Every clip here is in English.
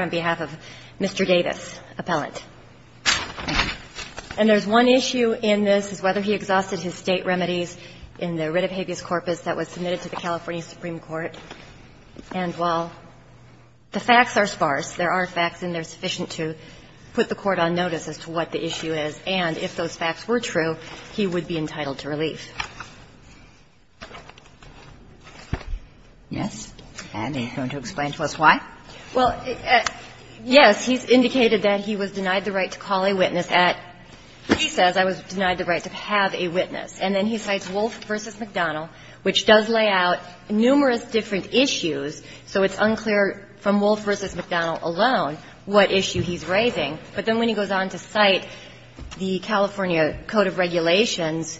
on behalf of Mr. Davis, appellant. And there's one issue in this is whether he exhausted his State remedies in the writ of habeas corpus that was submitted to the California Supreme Court. And while the facts are sparse, there are facts, and they're sufficient to put the State remedies in place that he would be entitled to relief. Kagan, and he's going to explain to us why. Well, yes, he's indicated that he was denied the right to call a witness at, he says, I was denied the right to have a witness. And then he cites Wolfe v. McDonnell, which does lay out numerous different issues, so it's unclear from Wolfe v. McDonnell alone what issue he's raising. But then when he goes on to cite the California Code of Regulations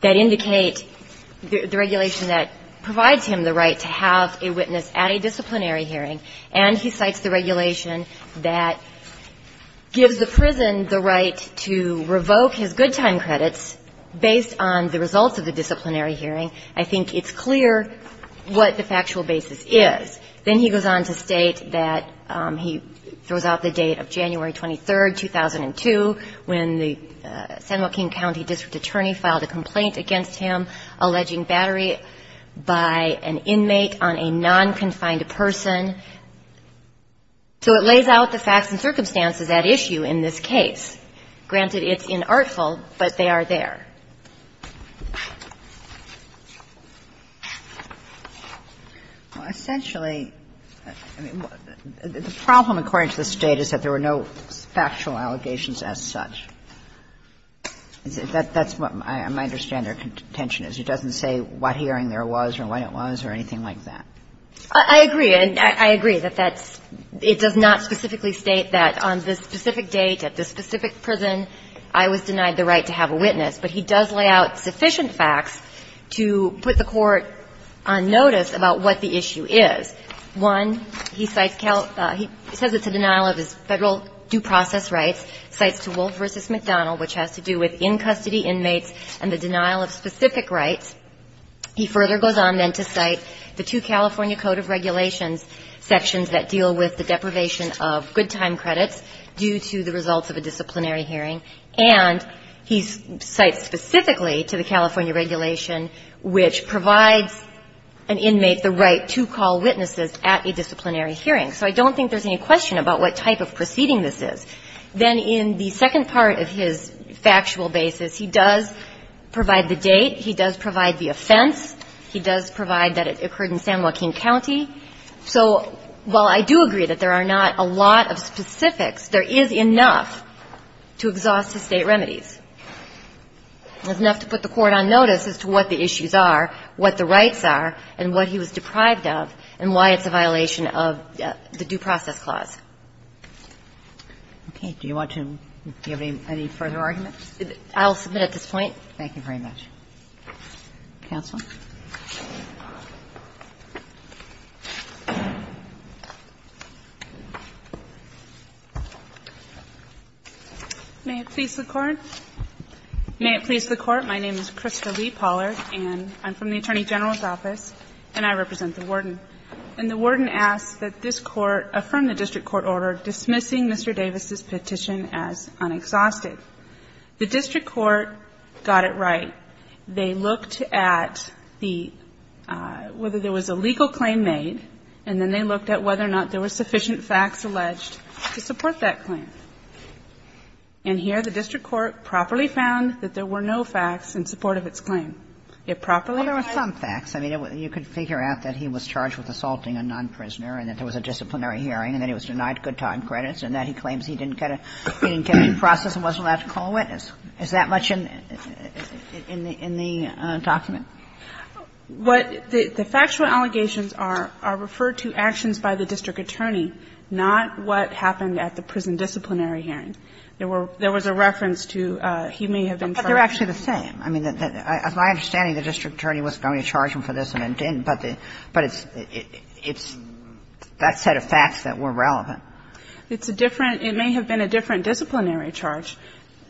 that indicate the regulation that provides him the right to have a witness at a disciplinary hearing, and he cites the regulation that gives the prison the right to revoke his good time credits based on the results of the disciplinary hearing, I think it's clear what the factual basis is. Then he goes on to state that he throws out the date of January 23, 2002, when the San Joaquin County district attorney filed a complaint against him alleging battery by an inmate on a non-confined person. So it lays out the facts and circumstances at issue in this case. Granted, it's inartful, but they are there. Well, essentially, the problem, according to the State, is that there were no factual allegations as such. That's what my understanding or contention is. It doesn't say what hearing there was or when it was or anything like that. I agree. And I agree that that's – it does not specifically state that on this specific date, at this specific prison, I was denied the right to have a witness, but he does lay out sufficient facts to put the Court on notice about what the issue is. One, he cites – he says it's a denial of his Federal due process rights, cites DeWolf v. McDonald, which has to do with in-custody inmates and the denial of specific rights. He further goes on then to cite the two California Code of Regulations sections that deal with the deprivation of good time credits due to the fact that this is the result of a disciplinary hearing, and he cites specifically to the California regulation which provides an inmate the right to call witnesses at a disciplinary hearing. So I don't think there's any question about what type of proceeding this is. Then in the second part of his factual basis, he does provide the date, he does provide the offense, he does provide that it occurred in San Joaquin County. So while I do agree that there are not a lot of specifics, there is enough to exhaust the State remedies. There's enough to put the Court on notice as to what the issues are, what the rights are, and what he was deprived of, and why it's a violation of the due process clause. Kagan. Do you want to give any further arguments? I'll submit at this point. Thank you very much. Counsel. May it please the Court, my name is Krista Lee Pollard, and I'm from the Attorney General's office, and I represent the Warden. And the Warden asks that this Court affirm the district court order dismissing Mr. Davis's petition as unexhausted. The district court got it right. They looked at the – whether there was a legal claim made, and then they looked at whether or not there were sufficient facts alleged to support that claim. And here, the district court properly found that there were no facts in support It properly found that there were no facts in support of its claim. Well, there were some facts. I mean, you could figure out that he was charged with assaulting a non-prisoner and that there was a disciplinary hearing and that he was denied good time credits and that he claims he didn't get a due process and wasn't allowed to call a witness. Is that much in the document? What the factual allegations are, are referred to actions by the district attorney, not what happened at the prison disciplinary hearing. There were – there was a reference to he may have been charged. But they're actually the same. I mean, as my understanding, the district attorney wasn't going to charge him for this and it didn't, but it's – it's that set of facts that were relevant. It's a different – it may have been a different disciplinary charge.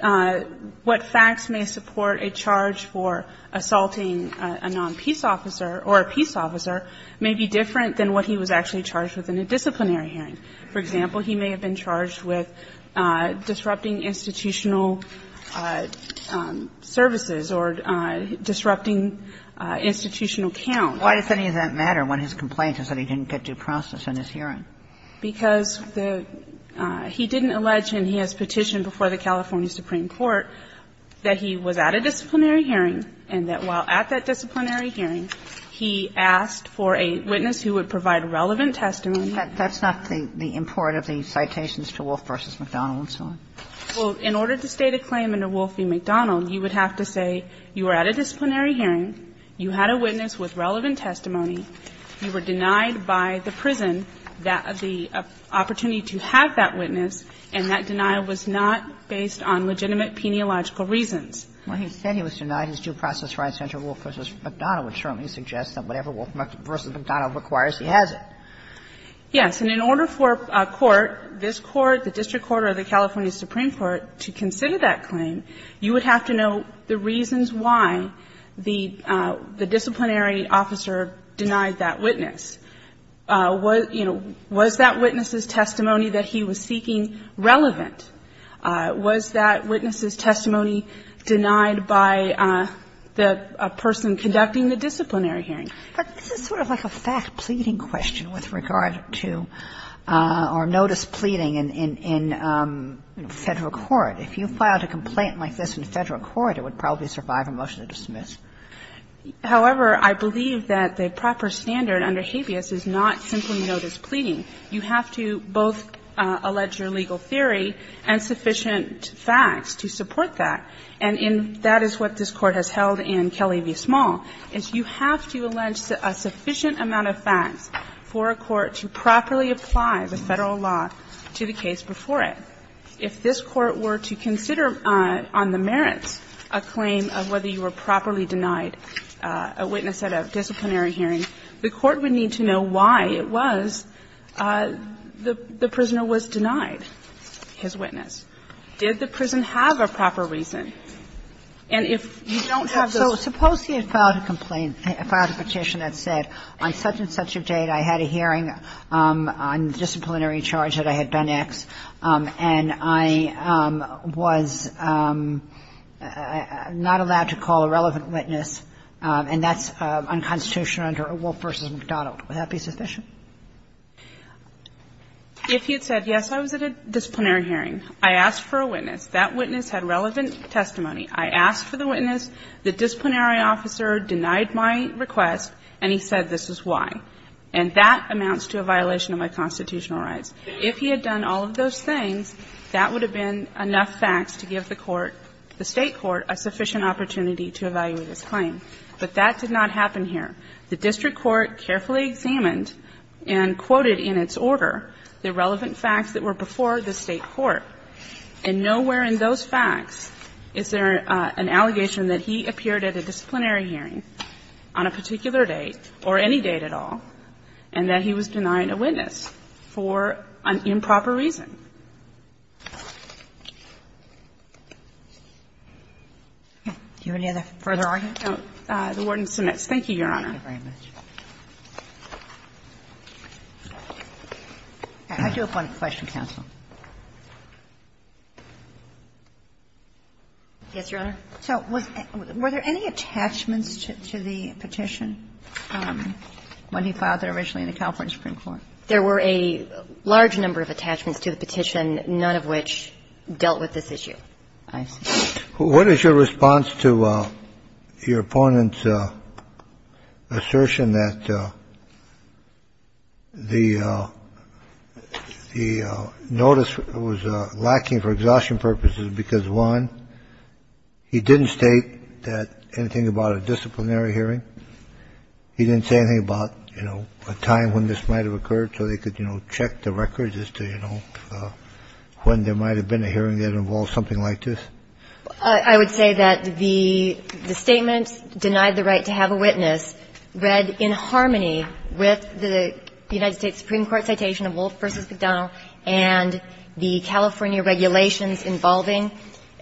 What facts may support a charge for assaulting a non-peace officer or a peace officer may be different than what he was actually charged with in a disciplinary hearing. For example, he may have been charged with disrupting institutional services or disrupting institutional count. Why does any of that matter when his complaint is that he didn't get due process in his hearing? Because the – he didn't allege, and he has petitioned before the California Supreme Court, that he was at a disciplinary hearing and that while at that disciplinary hearing, he asked for a witness who would provide relevant testimony. That's not the import of the citations to Wolfe v. McDonald and so on. Well, in order to state a claim under Wolfe v. McDonald, you would have to say you were at a disciplinary hearing, you had a witness with relevant testimony, you were denied by the prison the opportunity to have that witness, and that denial was not based on legitimate peniological reasons. Well, he said he was denied his due process right under Wolfe v. McDonald, which certainly suggests that whatever Wolfe v. McDonald requires, he has it. Yes. And in order for a court, this court, the district court or the California Supreme Court, to consider that claim, you would have to know the reasons why the disciplinary officer denied that witness. Was, you know, was that witness's testimony that he was seeking relevant? Was that witness's testimony denied by the person conducting the disciplinary hearing? But this is sort of like a fact-pleading question with regard to – or notice pleading in Federal court. If you filed a complaint like this in Federal court, it would probably survive a motion to dismiss. However, I believe that the proper standard under habeas is not simply notice pleading. You have to both allege your legal theory and sufficient facts to support that. And that is what this Court has held in Kelly v. Small, is you have to allege a sufficient amount of facts for a court to properly apply the Federal law to the case before it. If this Court were to consider on the merits a claim of whether you were properly denied a witness at a disciplinary hearing, the Court would need to know why it was the prisoner was denied his witness. Did the prison have a proper reason? And if you don't have the – Kagan. So suppose he had filed a complaint, filed a petition that said, on such-and-such a date, I had a hearing on disciplinary charge that I had done X, and I was not allowed to call a relevant witness, and that's unconstitutional under Wolf v. McDonald. Would that be sufficient? If he had said, yes, I was at a disciplinary hearing, I asked for a witness, that witness had relevant testimony, I asked for the witness, the disciplinary officer denied my request, and he said this is why. And that amounts to a violation of my constitutional rights. If he had done all of those things, that would have been enough facts to give the Court, the State court, a sufficient opportunity to evaluate his claim. But that did not happen here. The district court carefully examined and quoted in its order the relevant facts that were before the State court, and nowhere in those facts is there an allegation that he appeared at a disciplinary hearing on a particular date, or any date at all, and that he was denying a witness for an improper reason. Do you have any other further argument? No. The Warden submits. Thank you, Your Honor. Thank you very much. I do have one question, counsel. Yes, Your Honor. So was there any attachments to the petition when he filed it originally in the California Supreme Court? There were a large number of attachments to the petition, none of which dealt with this issue, I assume. What is your response to your opponent's assertion that the notice was lacking for exhaustion purposes because, one, he didn't state that anything about a disciplinary hearing? He didn't say anything about, you know, a time when this might have occurred so they could, you know, check the records as to, you know, when there might have been a hearing that involved something like this? I would say that the statement, denied the right to have a witness, read in harmony with the United States Supreme Court citation of Wolf v. McDonnell and the California regulations involving,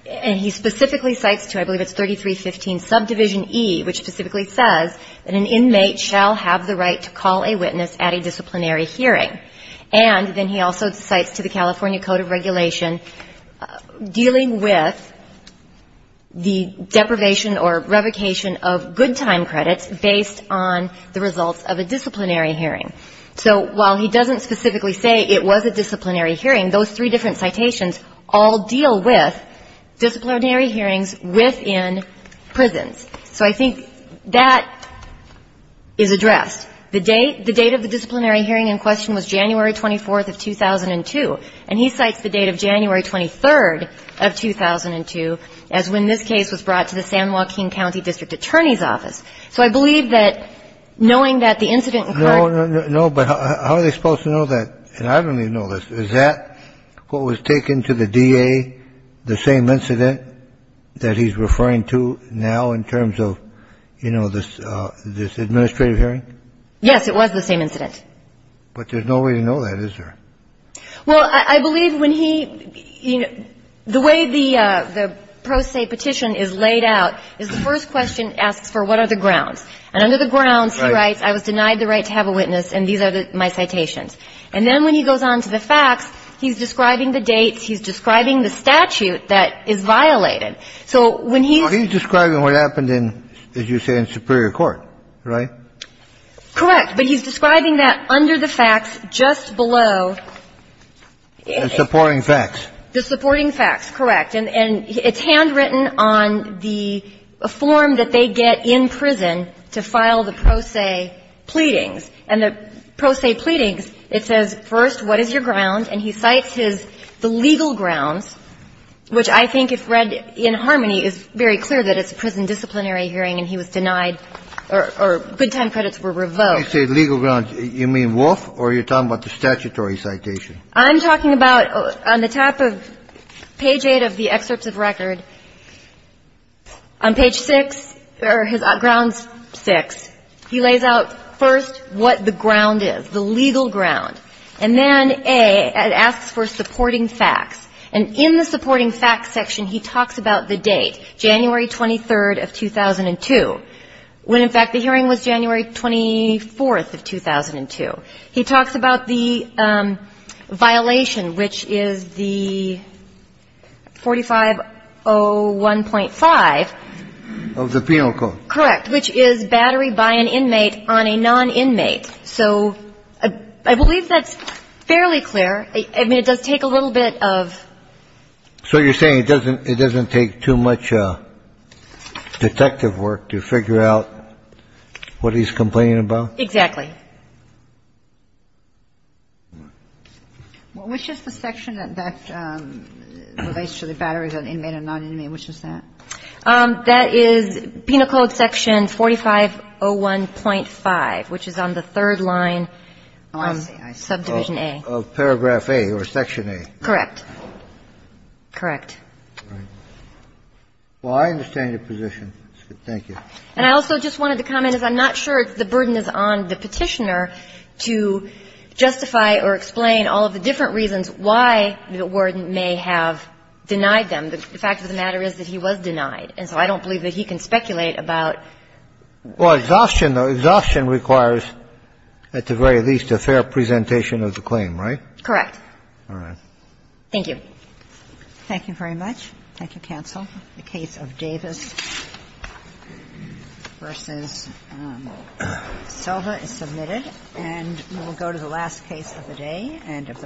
and he specifically cites to, I believe it's 3315 subdivision E, which specifically says that an inmate shall have the right to call a witness at a disciplinary hearing. And then he also cites to the California Code of Regulation dealing with the deprivation or revocation of good time credits based on the results of a disciplinary hearing. So while he doesn't specifically say it was a disciplinary hearing, those three different citations all deal with disciplinary hearings within prisons. So I think that is addressed. The date of the disciplinary hearing in question was January 24th of 2002, and he cites the date of January 23rd of 2002 as when this case was brought to the San Joaquin County District Attorney's Office. So I believe that, knowing that the incident occurred ---- So was taken to the DA the same incident that he's referring to now in terms of, you know, this administrative hearing? Yes, it was the same incident. But there's no way to know that, is there? Well, I believe when he ---- the way the pro se petition is laid out is the first question asks for what are the grounds. And under the grounds, he writes, I was denied the right to have a witness, and these are my citations. And then when he goes on to the facts, he's describing the dates, he's describing the statute that is violated. So when he's ---- But he's describing what happened in, as you say, in superior court, right? Correct. But he's describing that under the facts just below ---- The supporting facts. The supporting facts, correct. And it's handwritten on the form that they get in prison to file the pro se pleadings. And the pro se pleadings, it says, first, what is your ground? And he cites his ---- the legal grounds, which I think, if read in harmony, is very clear that it's a prison disciplinary hearing and he was denied or good time credits were revoked. When you say legal grounds, you mean Wolf or you're talking about the statutory citation? I'm talking about on the top of page 8 of the excerpts of record, on page 6, or his the legal ground. And then, A, it asks for supporting facts. And in the supporting facts section, he talks about the date, January 23rd of 2002, when, in fact, the hearing was January 24th of 2002. He talks about the violation, which is the 4501.5. Of the penal code. Correct. Which is battery by an inmate on a non-inmate. So I believe that's fairly clear. I mean, it does take a little bit of ---- So you're saying it doesn't take too much detective work to figure out what he's complaining about? Exactly. Which is the section that relates to the batteries on inmate and non-inmate? Which is that? That is penal code section 4501.5, which is on the third line of subdivision A. Of paragraph A or section A. Correct. Correct. Well, I understand your position. Thank you. And I also just wanted to comment, as I'm not sure if the burden is on the Petitioner to justify or explain all of the different reasons why the warden may have denied them. The fact of the matter is that he was denied, and so I don't believe that he can speculate about ---- Well, exhaustion, though, exhaustion requires at the very least a fair presentation of the claim, right? Correct. All right. Thank you. Thank you very much. Thank you, counsel. The case of Davis v. Silva is submitted. And we will go to the last case of the day and of the week.